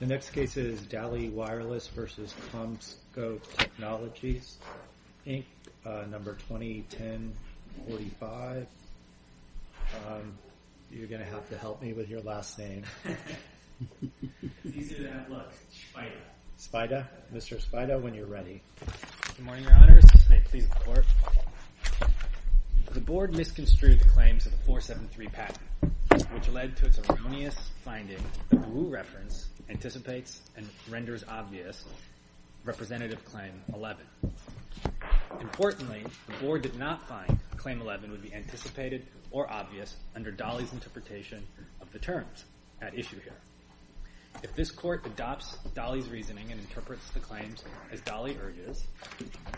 The next case is Dali Wireless v. CommScope Technologies, Inc., number 201045. You're going to have to help me with your last name. It's easier to have luck. Spida. Spida. Mr. Spida, when you're ready. Good morning, Your Honors. May it please the Court. The Board misconstrued the claims of the 473 patent, which led to its erroneous finding that the Wu reference anticipates and renders obvious Representative Claim 11. Importantly, the Board did not find Claim 11 would be anticipated or obvious under Dali's interpretation of the terms at issue here. If this Court adopts Dali's reasoning and interprets the claims as Dali urges,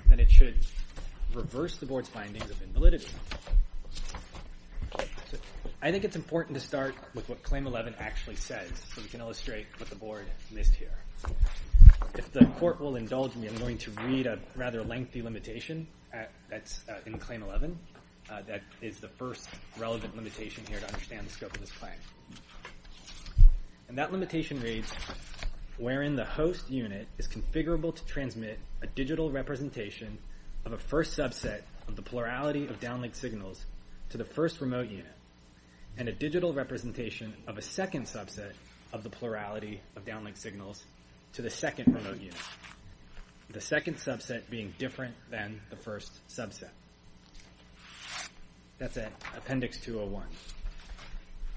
then it should reverse the Board's findings of invalidity. I think it's important to start with what Claim 11 actually says so we can illustrate what the Board missed here. If the Court will indulge me, I'm going to read a rather lengthy limitation that's in Claim 11 that is the first relevant limitation here to understand the scope of this claim. And that limitation reads, wherein the host unit is configurable to transmit a digital representation of a first subset of the plurality of downlink signals to the first remote unit and a digital representation of a second subset of the plurality of downlink signals to the second remote unit, the second subset being different than the first subset. That's at Appendix 201.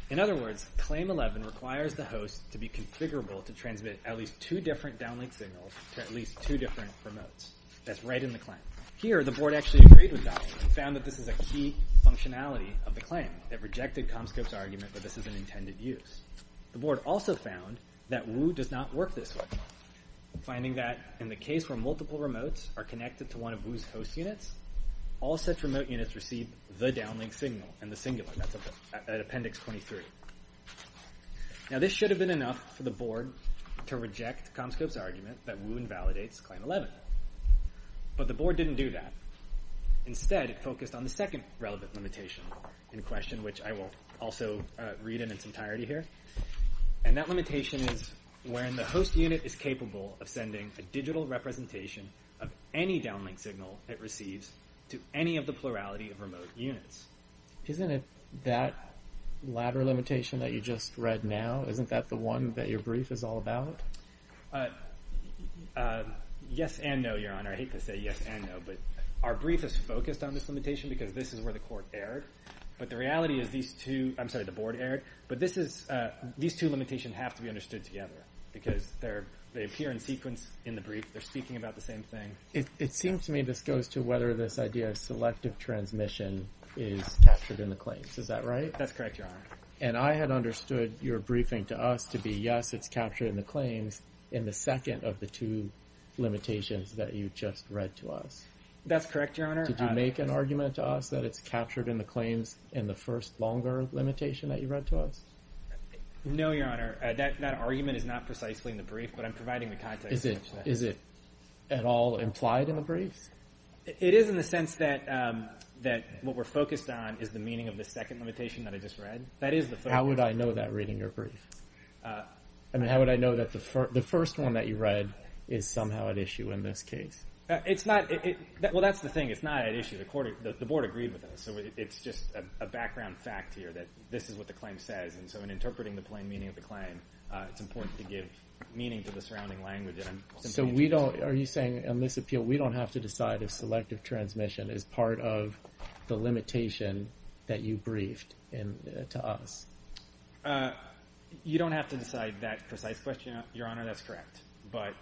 In other words, Claim 11 requires the host to be configurable to transmit at least two different downlink signals to at least two different remotes. That's right in the claim. Here, the Board actually agreed with Dali and found that this is a key functionality of the claim that rejected Comscope's argument that this is an intended use. The Board also found that Woo does not work this way, finding that in the case where multiple remotes are connected to one of Woo's host units, all such remote units receive the downlink signal and the singular. That's at Appendix 23. Now, this should have been enough for the Board to reject Comscope's argument that Woo invalidates Claim 11, but the Board didn't do that. Instead, it focused on the second relevant limitation in question, which I will also read in its entirety here, and that limitation is wherein the host unit is capable of sending a digital representation of any downlink signal it receives to any of the plurality of remote units. Isn't it that latter limitation that you just read now? Isn't that the one that your brief is all about? Yes and no, Your Honor. I hate to say yes and no, but our brief is focused on this limitation because this is where the Court erred, but the reality is these two – I'm sorry, the Board erred, but these two limitations have to be understood together because they appear in sequence in the brief. They're speaking about the same thing. It seems to me this goes to whether this idea of selective transmission is captured in the claims. Is that right? That's correct, Your Honor. And I had understood your briefing to us to be, yes, it's captured in the claims in the second of the two limitations that you just read to us. That's correct, Your Honor. Did you make an argument to us that it's captured in the claims in the first longer limitation that you read to us? No, Your Honor. That argument is not precisely in the brief, but I'm providing the context. Is it at all implied in the briefs? It is in the sense that what we're focused on is the meaning of the second limitation that I just read. How would I know that reading your brief? I mean, how would I know that the first one that you read is somehow at issue in this case? It's not – well, that's the thing. It's not at issue. The Board agreed with us, so it's just a background fact here that this is what the claim says, and so in interpreting the plain meaning of the claim, it's important to give meaning to the surrounding language. So we don't – are you saying in this appeal we don't have to decide if selective transmission is part of the limitation that you briefed to us? You don't have to decide that precise question, Your Honor. That's correct. But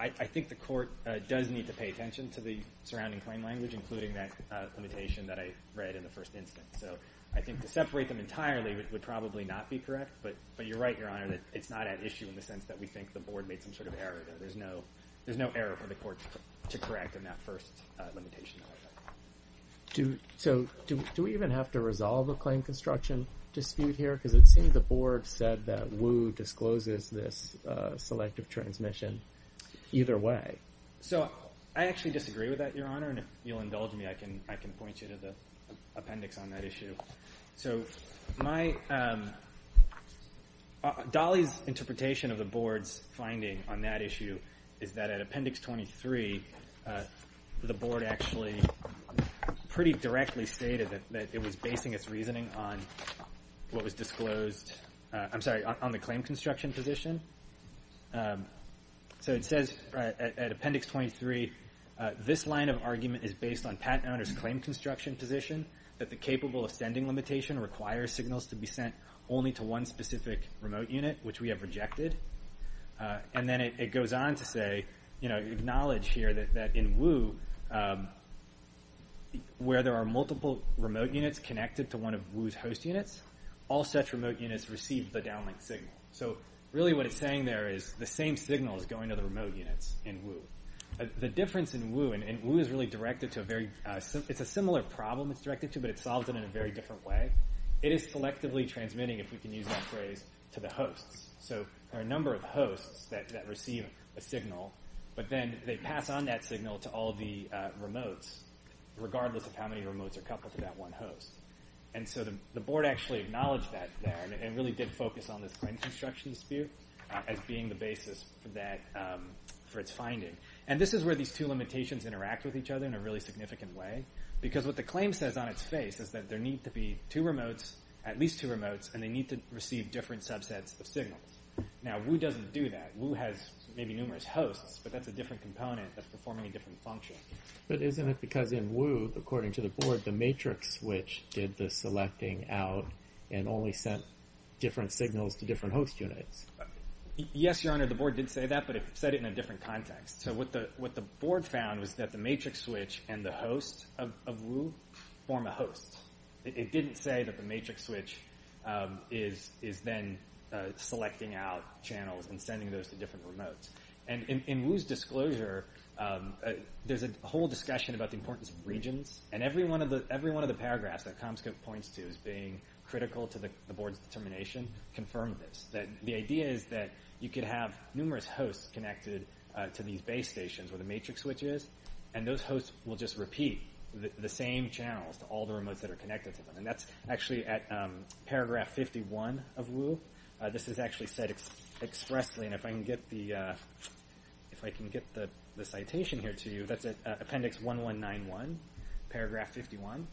I think the court does need to pay attention to the surrounding claim language, including that limitation that I read in the first instance. So I think to separate them entirely would probably not be correct, but you're right, Your Honor, that it's not at issue in the sense that we think the Board made some sort of error there. There's no error for the court to correct in that first limitation. So do we even have to resolve a claim construction dispute here? Because it seems the Board said that Wu discloses this selective transmission either way. So I actually disagree with that, Your Honor, and if you'll indulge me, I can point you to the appendix on that issue. So my – Dolly's interpretation of the Board's finding on that issue is that at Appendix 23, the Board actually pretty directly stated that it was basing its reasoning on what was disclosed – I'm sorry, on the claim construction position. So it says at Appendix 23, this line of argument is based on Pat Owner's claim construction position that the capable ascending limitation requires signals to be sent only to one specific remote unit, which we have rejected. And then it goes on to say – acknowledge here that in Wu, where there are multiple remote units connected to one of Wu's host units, all such remote units receive the downlink signal. So really what it's saying there is the same signal is going to the remote units in Wu. The difference in Wu – and Wu is really directed to a very – the problem is directed to, but it solves it in a very different way. It is selectively transmitting, if we can use that phrase, to the hosts. So there are a number of hosts that receive a signal, but then they pass on that signal to all of the remotes, regardless of how many remotes are coupled to that one host. And so the Board actually acknowledged that there and really did focus on this claim construction dispute as being the basis for its finding. And this is where these two limitations interact with each other in a really significant way because what the claim says on its face is that there need to be two remotes, at least two remotes, and they need to receive different subsets of signals. Now, Wu doesn't do that. Wu has maybe numerous hosts, but that's a different component that's performing a different function. But isn't it because in Wu, according to the Board, the matrix switch did the selecting out and only sent different signals to different host units? Yes, Your Honor, the Board did say that, but it said it in a different context. So what the Board found was that the matrix switch and the host of Wu form a host. It didn't say that the matrix switch is then selecting out channels and sending those to different remotes. And in Wu's disclosure, there's a whole discussion about the importance of regions, and every one of the paragraphs that Comscope points to as being critical to the Board's determination confirmed this. The idea is that you could have numerous hosts connected to these base stations where the matrix switch is, and those hosts will just repeat the same channels to all the remotes that are connected to them. And that's actually at paragraph 51 of Wu. This is actually said expressly, and if I can get the citation here to you, that's at appendix 1191, paragraph 51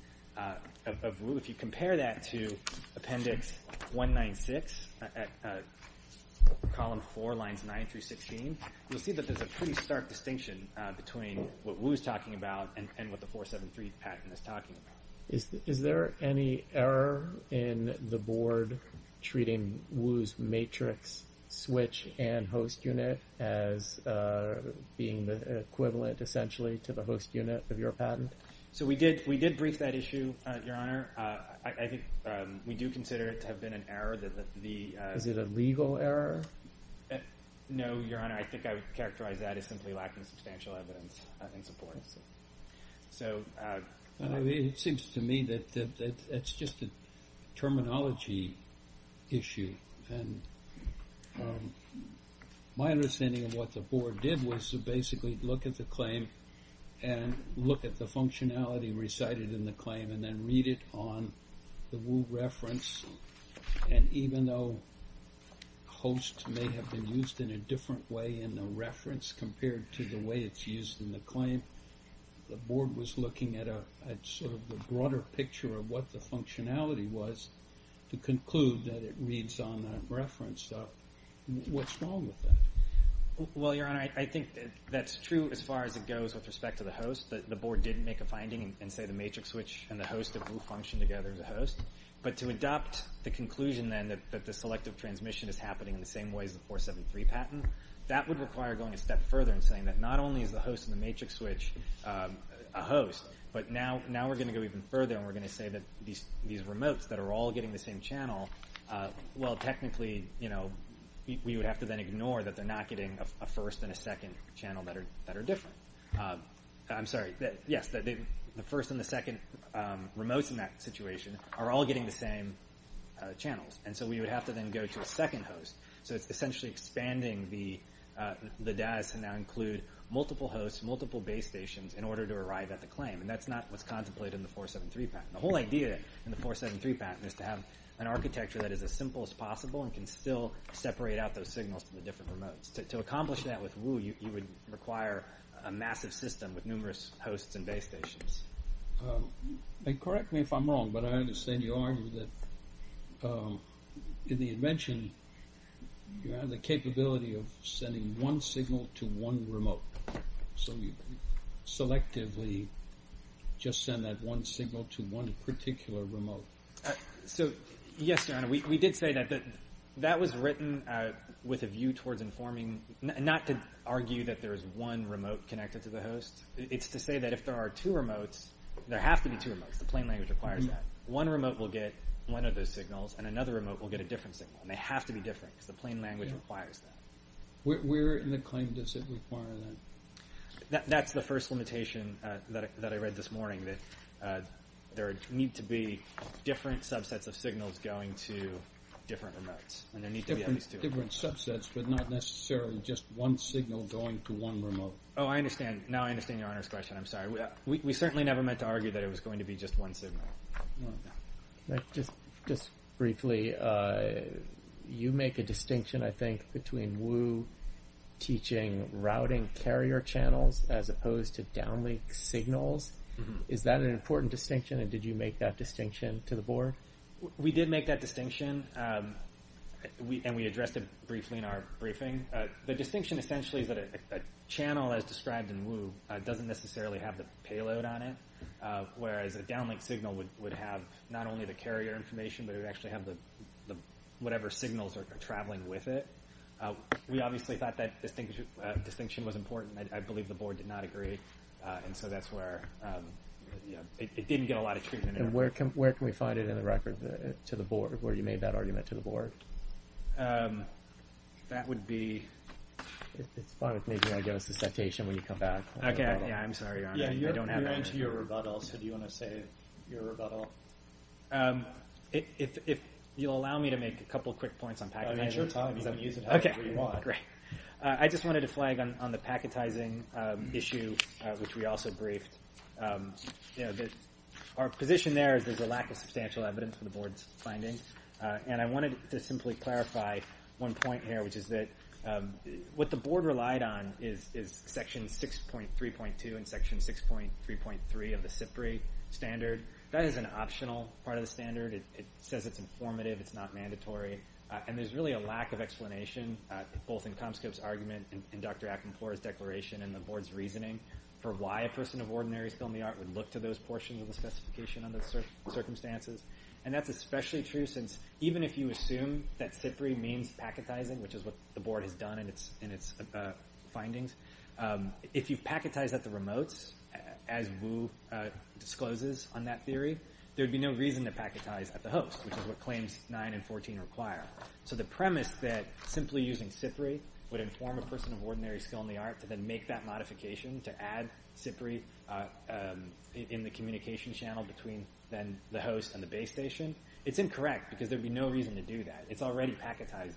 of Wu. If you compare that to appendix 196, column 4, lines 9 through 16, you'll see that there's a pretty stark distinction between what Wu's talking about and what the 473 patent is talking about. Is there any error in the Board treating Wu's matrix switch and host unit as being the equivalent, essentially, to the host unit of your patent? We did brief that issue, Your Honor. We do consider it to have been an error. Is it a legal error? No, Your Honor. I think I would characterize that as simply lacking substantial evidence in support. It seems to me that it's just a terminology issue. My understanding of what the Board did was to basically look at the claim and look at the functionality recited in the claim and then read it on the Wu reference. And even though host may have been used in a different way in the reference compared to the way it's used in the claim, the Board was looking at sort of the broader picture of what the functionality was to conclude that it reads on that reference. What's wrong with that? Well, Your Honor, I think that's true as far as it goes with respect to the host. The Board did make a finding and say the matrix switch and the host of Wu function together as a host. But to adopt the conclusion then that the selective transmission is happening in the same way as the 473 patent, that would require going a step further and saying that not only is the host and the matrix switch a host, but now we're going to go even further and we're going to say that these remotes that are all getting the same channel, well, technically, we would have to then ignore that they're not getting a first and a second channel that are different. I'm sorry. Yes, the first and the second remotes in that situation are all getting the same channels. And so we would have to then go to a second host. So it's essentially expanding the DAS and now include multiple hosts, multiple base stations in order to arrive at the claim. And that's not what's contemplated in the 473 patent. The whole idea in the 473 patent is to have an architecture that is as simple as possible and can still separate out those signals from the different remotes. To accomplish that with Wu, you would require a massive system with numerous hosts and base stations. Correct me if I'm wrong, but I understand you argue that in the invention, you have the capability of sending one signal to one remote. So you selectively just send that one signal to one particular remote. So, yes, Your Honor, we did say that. That was written with a view towards informing, not to argue that there is one remote connected to the host. It's to say that if there are two remotes, there have to be two remotes. The plain language requires that. One remote will get one of those signals, and another remote will get a different signal. And they have to be different because the plain language requires that. Where in the claim does it require that? That's the first limitation that I read this morning, that there need to be different subsets of signals going to different remotes. And there need to be at least two of them. Different subsets, but not necessarily just one signal going to one remote. Oh, I understand. Now I understand Your Honor's question. I'm sorry. We certainly never meant to argue that it was going to be just one signal. Just briefly, you make a distinction, I think, between Wu teaching routing carrier channels as opposed to downlink signals. Is that an important distinction, and did you make that distinction to the Board? We did make that distinction, and we addressed it briefly in our briefing. The distinction essentially is that a channel, as described in Wu, doesn't necessarily have the payload on it, whereas a downlink signal would have not only the carrier information, but it would actually have whatever signals are traveling with it. We obviously thought that distinction was important. I believe the Board did not agree. And so that's where it didn't get a lot of treatment. And where can we find it in the record to the Board, where you made that argument to the Board? That would be… It's fine with me. You can give us the citation when you come back. Okay. Yeah, I'm sorry, Your Honor. I don't have it. We're on to your rebuttal, so do you want to say your rebuttal? If you'll allow me to make a couple quick points on packetizing. I mean, sure time, because I'm using it however you want. Okay, great. I just wanted to flag on the packetizing issue, which we also briefed. Our position there is there's a lack of substantial evidence for the Board's findings, and I wanted to simply clarify one point here, which is that what the Board relied on is Section 6.3.2 and Section 6.3.3 of the SIPRI standard. That is an optional part of the standard. It says it's informative. It's not mandatory. And there's really a lack of explanation, both in Comscope's argument and Dr. Akinpore's declaration and the Board's reasoning for why a person of ordinary skill in the art would look to those portions of the specification under those circumstances. And that's especially true since even if you assume that SIPRI means packetizing, which is what the Board has done in its findings, if you packetize at the remotes, as Wu discloses on that theory, there would be no reason to packetize at the host, which is what Claims 9 and 14 require. So the premise that simply using SIPRI would inform a person of ordinary skill in the art to then make that modification to add SIPRI in the communication channel between then the host and the base station, it's incorrect because there would be no reason to do that. It's already packetized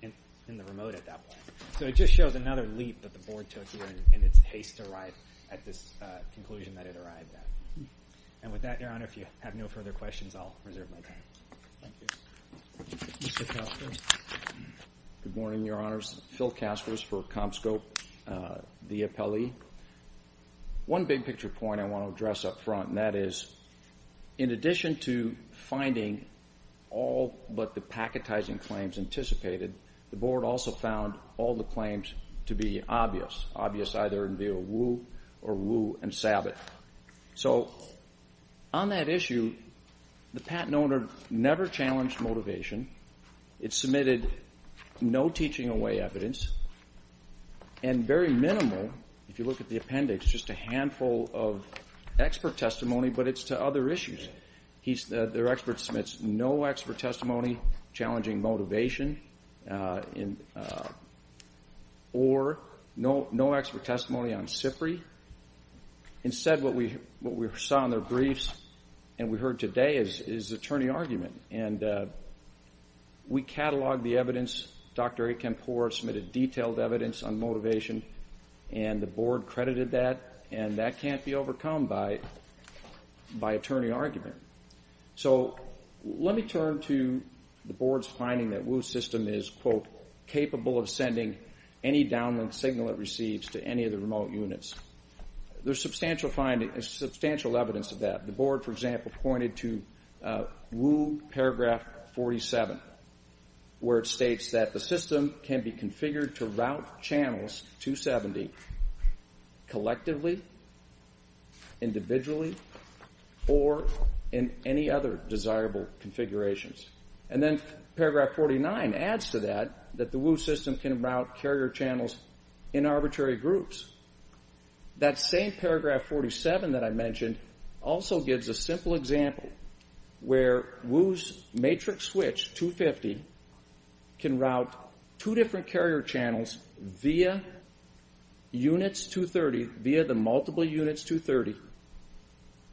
in the remote at that point. So it just shows another leap that the Board took here in its haste to arrive at this conclusion that it arrived at. And with that, Your Honor, if you have no further questions, I'll reserve my time. Thank you. Mr. Kaspers? Good morning, Your Honors. Phil Kaspers for Comscope, the appellee. One big-picture point I want to address up front, and that is, in addition to finding all but the packetizing claims anticipated, the Board also found all the claims to be obvious, obvious either in view of Wu or Wu and Sabbat. So on that issue, the patent owner never challenged motivation. It submitted no teaching-away evidence and very minimal, if you look at the appendix, it's just a handful of expert testimony, but it's to other issues. Their expert submits no expert testimony challenging motivation or no expert testimony on SIPRI. Instead, what we saw in their briefs and we heard today is attorney argument. We cataloged the evidence. Dr. Akinpore submitted detailed evidence on motivation, and the Board credited that, and that can't be overcome by attorney argument. So let me turn to the Board's finding that Wu system is, quote, capable of sending any downlink signal it receives to any of the remote units. There's substantial evidence of that. The Board, for example, pointed to Wu paragraph 47, where it states that the system can be configured to route channels 270 collectively, individually, or in any other desirable configurations. And then paragraph 49 adds to that, that the Wu system can route carrier channels in arbitrary groups. That same paragraph 47 that I mentioned also gives a simple example where Wu's matrix switch 250 can route two different carrier channels via units 230, via the multiple units 230,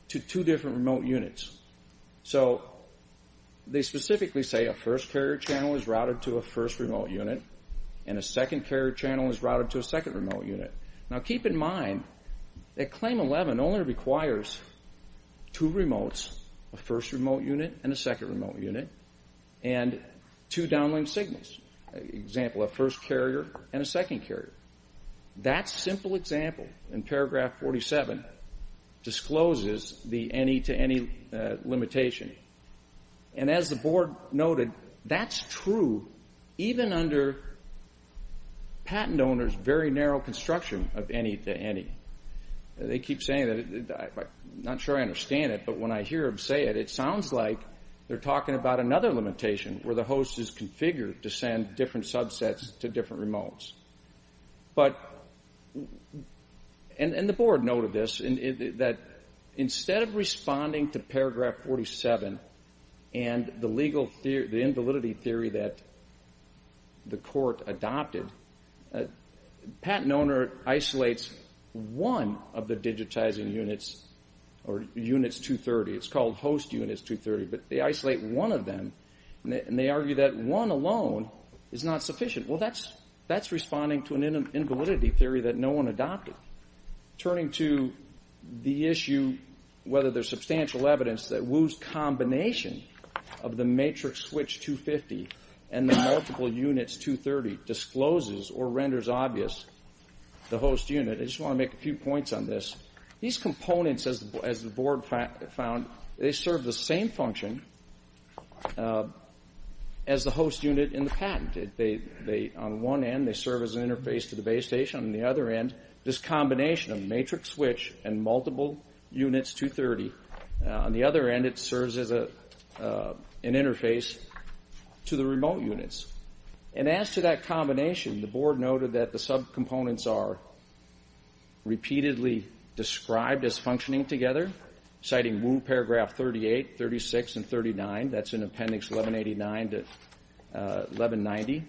to two different remote units. So they specifically say a first carrier channel is routed to a first remote unit, and a second carrier channel is routed to a second remote unit. Now keep in mind that Claim 11 only requires two remotes, a first remote unit and a second remote unit, and two downlink signals. Example, a first carrier and a second carrier. That simple example in paragraph 47 discloses the any-to-any limitation. And as the Board noted, that's true even under patent owners' very narrow construction of any-to-any. They keep saying that. I'm not sure I understand it, but when I hear them say it, it sounds like they're talking about another limitation where the host is configured to send different subsets to different remotes. And the Board noted this, that instead of responding to paragraph 47 and the invalidity theory that the court adopted, patent owner isolates one of the digitizing units, or units 230. It's called host units 230, but they isolate one of them, and they argue that one alone is not sufficient. Well, that's responding to an invalidity theory that no one adopted. Turning to the issue whether there's substantial evidence that Wu's combination of the matrix switch 250 and the multiple units 230 discloses or renders obvious the host unit, I just want to make a few points on this. These components, as the Board found, they serve the same function as the host unit in the patent. On one end, they serve as an interface to the base station. On the other end, this combination of matrix switch and multiple units 230, on the other end it serves as an interface to the remote units. And as to that combination, the Board noted that the subcomponents are repeatedly described as functioning together, citing Wu paragraph 38, 36, and 39. That's in appendix 1189 to 1190.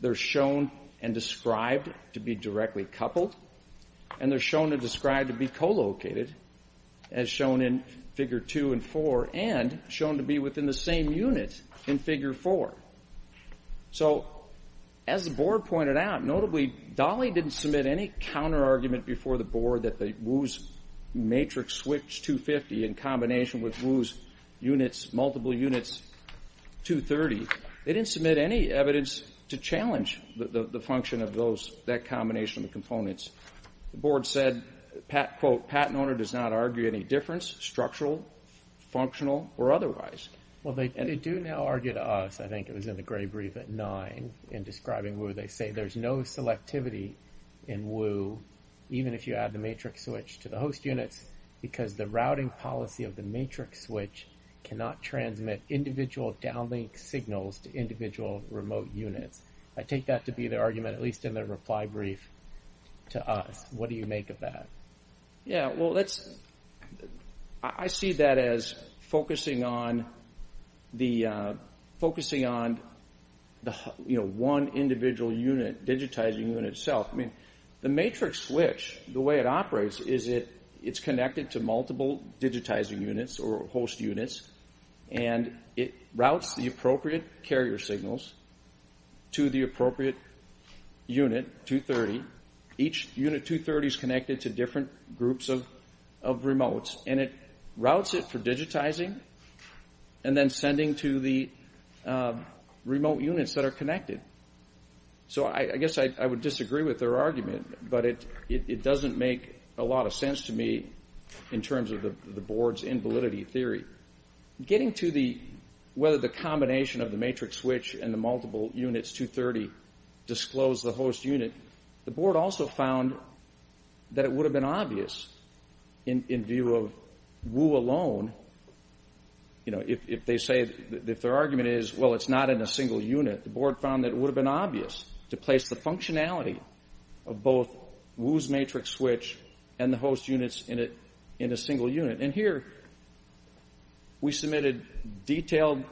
They're shown and described to be directly coupled, and they're shown and described to be co-located, as shown in figure 2 and 4, and shown to be within the same unit in figure 4. So as the Board pointed out, notably Dolly didn't submit any counterargument before the Board that Wu's matrix switch 250 in combination with Wu's multiple units 230, they didn't submit any evidence to challenge the function of that combination of the components. The Board said, quote, patent owner does not argue any difference, structural, functional, or otherwise. Well, they do now argue to us. I think it was in the gray brief at 9 in describing Wu. They say there's no selectivity in Wu, even if you add the matrix switch to the host units, because the routing policy of the matrix switch cannot transmit individual downlink signals to individual remote units. I take that to be the argument, at least in the reply brief to us. What do you make of that? Yeah, well, I see that as focusing on the one individual digitizing unit itself. The matrix switch, the way it operates, is it's connected to multiple digitizing units or host units, and it routes the appropriate carrier signals to the appropriate unit 230. Each unit 230 is connected to different groups of remotes, and it routes it for digitizing and then sending to the remote units that are connected. So I guess I would disagree with their argument, but it doesn't make a lot of sense to me in terms of the Board's invalidity theory. Getting to whether the combination of the matrix switch and the multiple units 230 disclose the host unit, the Board also found that it would have been obvious, in view of Wu alone, if their argument is, well, it's not in a single unit, the Board found that it would have been obvious to place the functionality of both Wu's matrix switch and the host units in a single unit. And here, we submitted detailed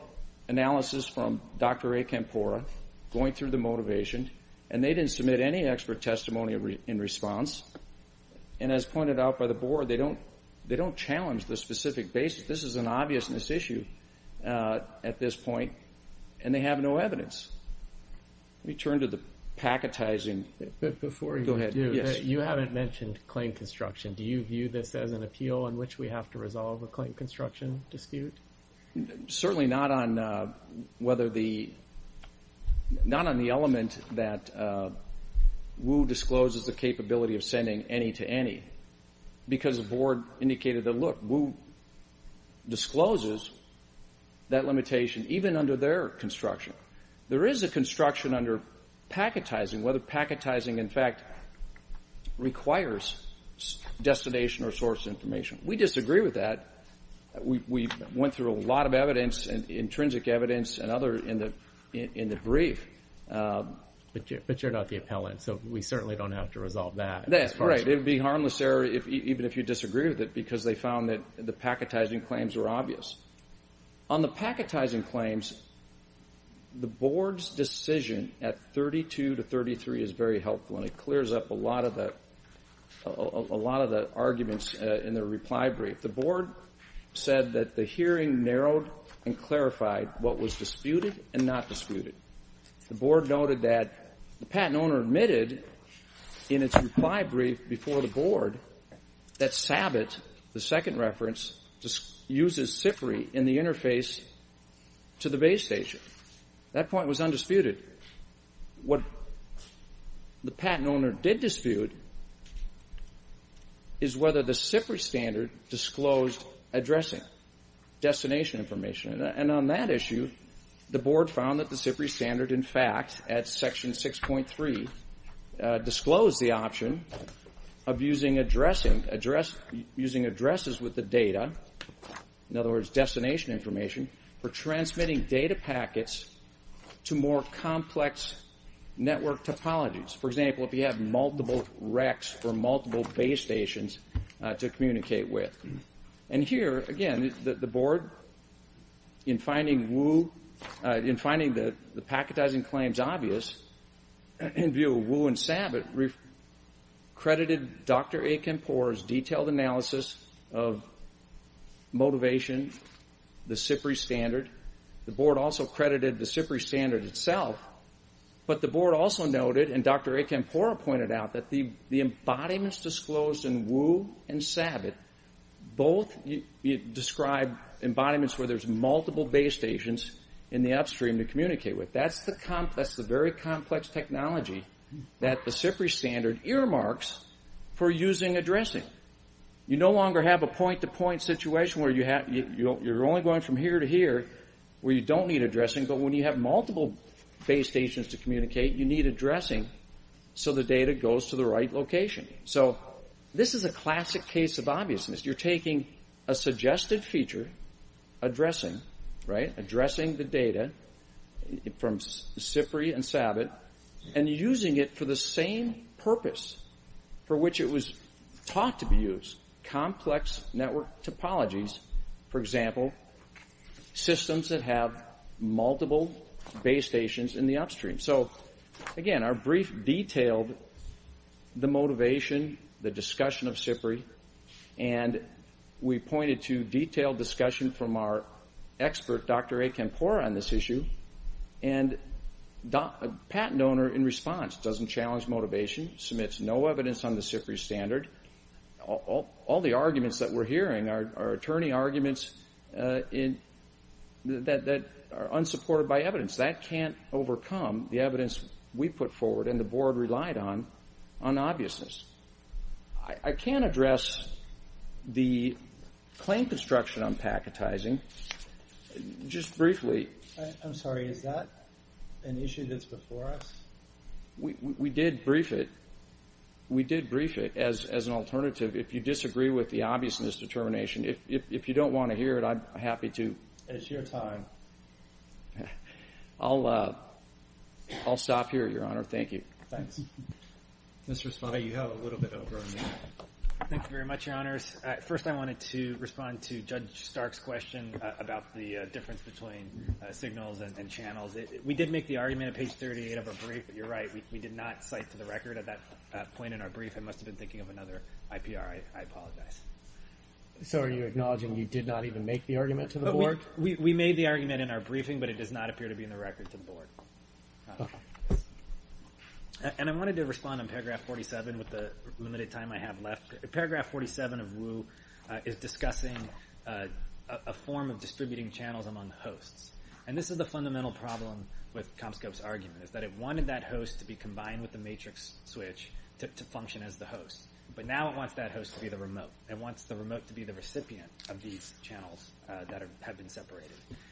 analysis from Dr. A. Campora, going through the motivation, and they didn't submit any expert testimony in response. And as pointed out by the Board, they don't challenge the specific basis. This is an obviousness issue at this point, and they have no evidence. Let me turn to the packetizing. Go ahead. You haven't mentioned claim construction. Do you view this as an appeal in which we have to resolve a claim construction dispute? Certainly not on whether the element that Wu discloses the capability of sending any to any, because the Board indicated that, look, Wu discloses that limitation even under their construction. There is a construction under packetizing, whether packetizing, in fact, requires destination or source information. We disagree with that. We went through a lot of evidence, intrinsic evidence, and other in the brief. But you're not the appellant, so we certainly don't have to resolve that. That's right. It would be harmless, sir, even if you disagree with it, because they found that the packetizing claims were obvious. On the packetizing claims, the Board's decision at 32 to 33 is very helpful, and it clears up a lot of the arguments in the reply brief. The Board said that the hearing narrowed and clarified what was disputed and not disputed. The Board noted that the patent owner admitted in its reply brief before the Board that SABIT, the second reference, uses SIFRI in the interface to the base station. That point was undisputed. What the patent owner did dispute is whether the SIFRI standard disclosed addressing destination information. And on that issue, the Board found that the SIFRI standard, in fact, at Section 6.3 disclosed the option of using addresses with the data, in other words, destination information, for transmitting data packets to more complex network topologies. For example, if you have multiple recs for multiple base stations to communicate with. And here, again, the Board, in finding the packetizing claims obvious, in view of WOO and SABIT, credited Dr. Akinpora's detailed analysis of motivation, the SIFRI standard. The Board also credited the SIFRI standard itself. But the Board also noted, and Dr. Akinpora pointed out, that the embodiments disclosed in WOO and SABIT, both describe embodiments where there's multiple base stations in the upstream to communicate with. That's the very complex technology that the SIFRI standard earmarks for using addressing. You no longer have a point-to-point situation where you're only going from here to here where you don't need addressing, but when you have multiple base stations to communicate, you need addressing so the data goes to the right location. So this is a classic case of obviousness. You're taking a suggested feature, addressing the data from SIFRI and SABIT, and using it for the same purpose for which it was taught to be used, complex network topologies. For example, systems that have multiple base stations in the upstream. Again, our brief detailed the motivation, the discussion of SIFRI, and we pointed to detailed discussion from our expert, Dr. Akinpora, on this issue. A patent owner, in response, doesn't challenge motivation, submits no evidence on the SIFRI standard. All the arguments that we're hearing are attorney arguments that are unsupported by evidence. That can't overcome the evidence we put forward and the Board relied on, on obviousness. I can address the claim construction on packetizing just briefly. I'm sorry, is that an issue that's before us? We did brief it. We did brief it as an alternative. If you disagree with the obviousness determination, if you don't want to hear it, I'm happy to. It's your time. I'll stop here, Your Honor. Thank you. Thanks. Mr. Spada, you have a little bit over on you. Thank you very much, Your Honors. First, I wanted to respond to Judge Stark's question about the difference between signals and channels. We did make the argument at page 38 of our brief. You're right. We did not cite to the record at that point in our brief. I must have been thinking of another IPR. I apologize. So are you acknowledging you did not even make the argument to the Board? We made the argument in our briefing, but it does not appear to be in the record to the Board. And I wanted to respond on paragraph 47 with the limited time I have left. Paragraph 47 of WU is discussing a form of distributing channels among hosts. And this is the fundamental problem with Comscope's argument, is that it wanted that host to be combined with the matrix switch to function as the host. But now it wants that host to be the remote. It wants the remote to be the recipient of these channels that have been separated.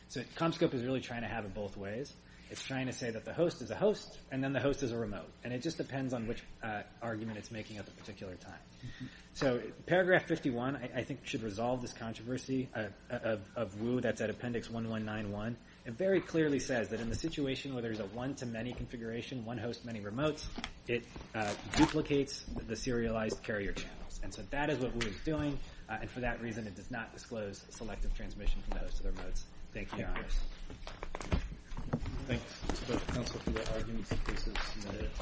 So Comscope is really trying to have it both ways. It's trying to say that the host is a host, and then the host is a remote. And it just depends on which argument it's making at the particular time. So paragraph 51, I think, should resolve this controversy of WU. That's at appendix 1191. It very clearly says that in the situation where there's a one-to-many configuration, one host, many remotes, it duplicates the serialized carrier channels. And so that is what WU is doing, and for that reason it does not disclose selective transmission from the host to the remotes. Thank you, Your Honors. Thanks, Mr. Counsel, for your arguments.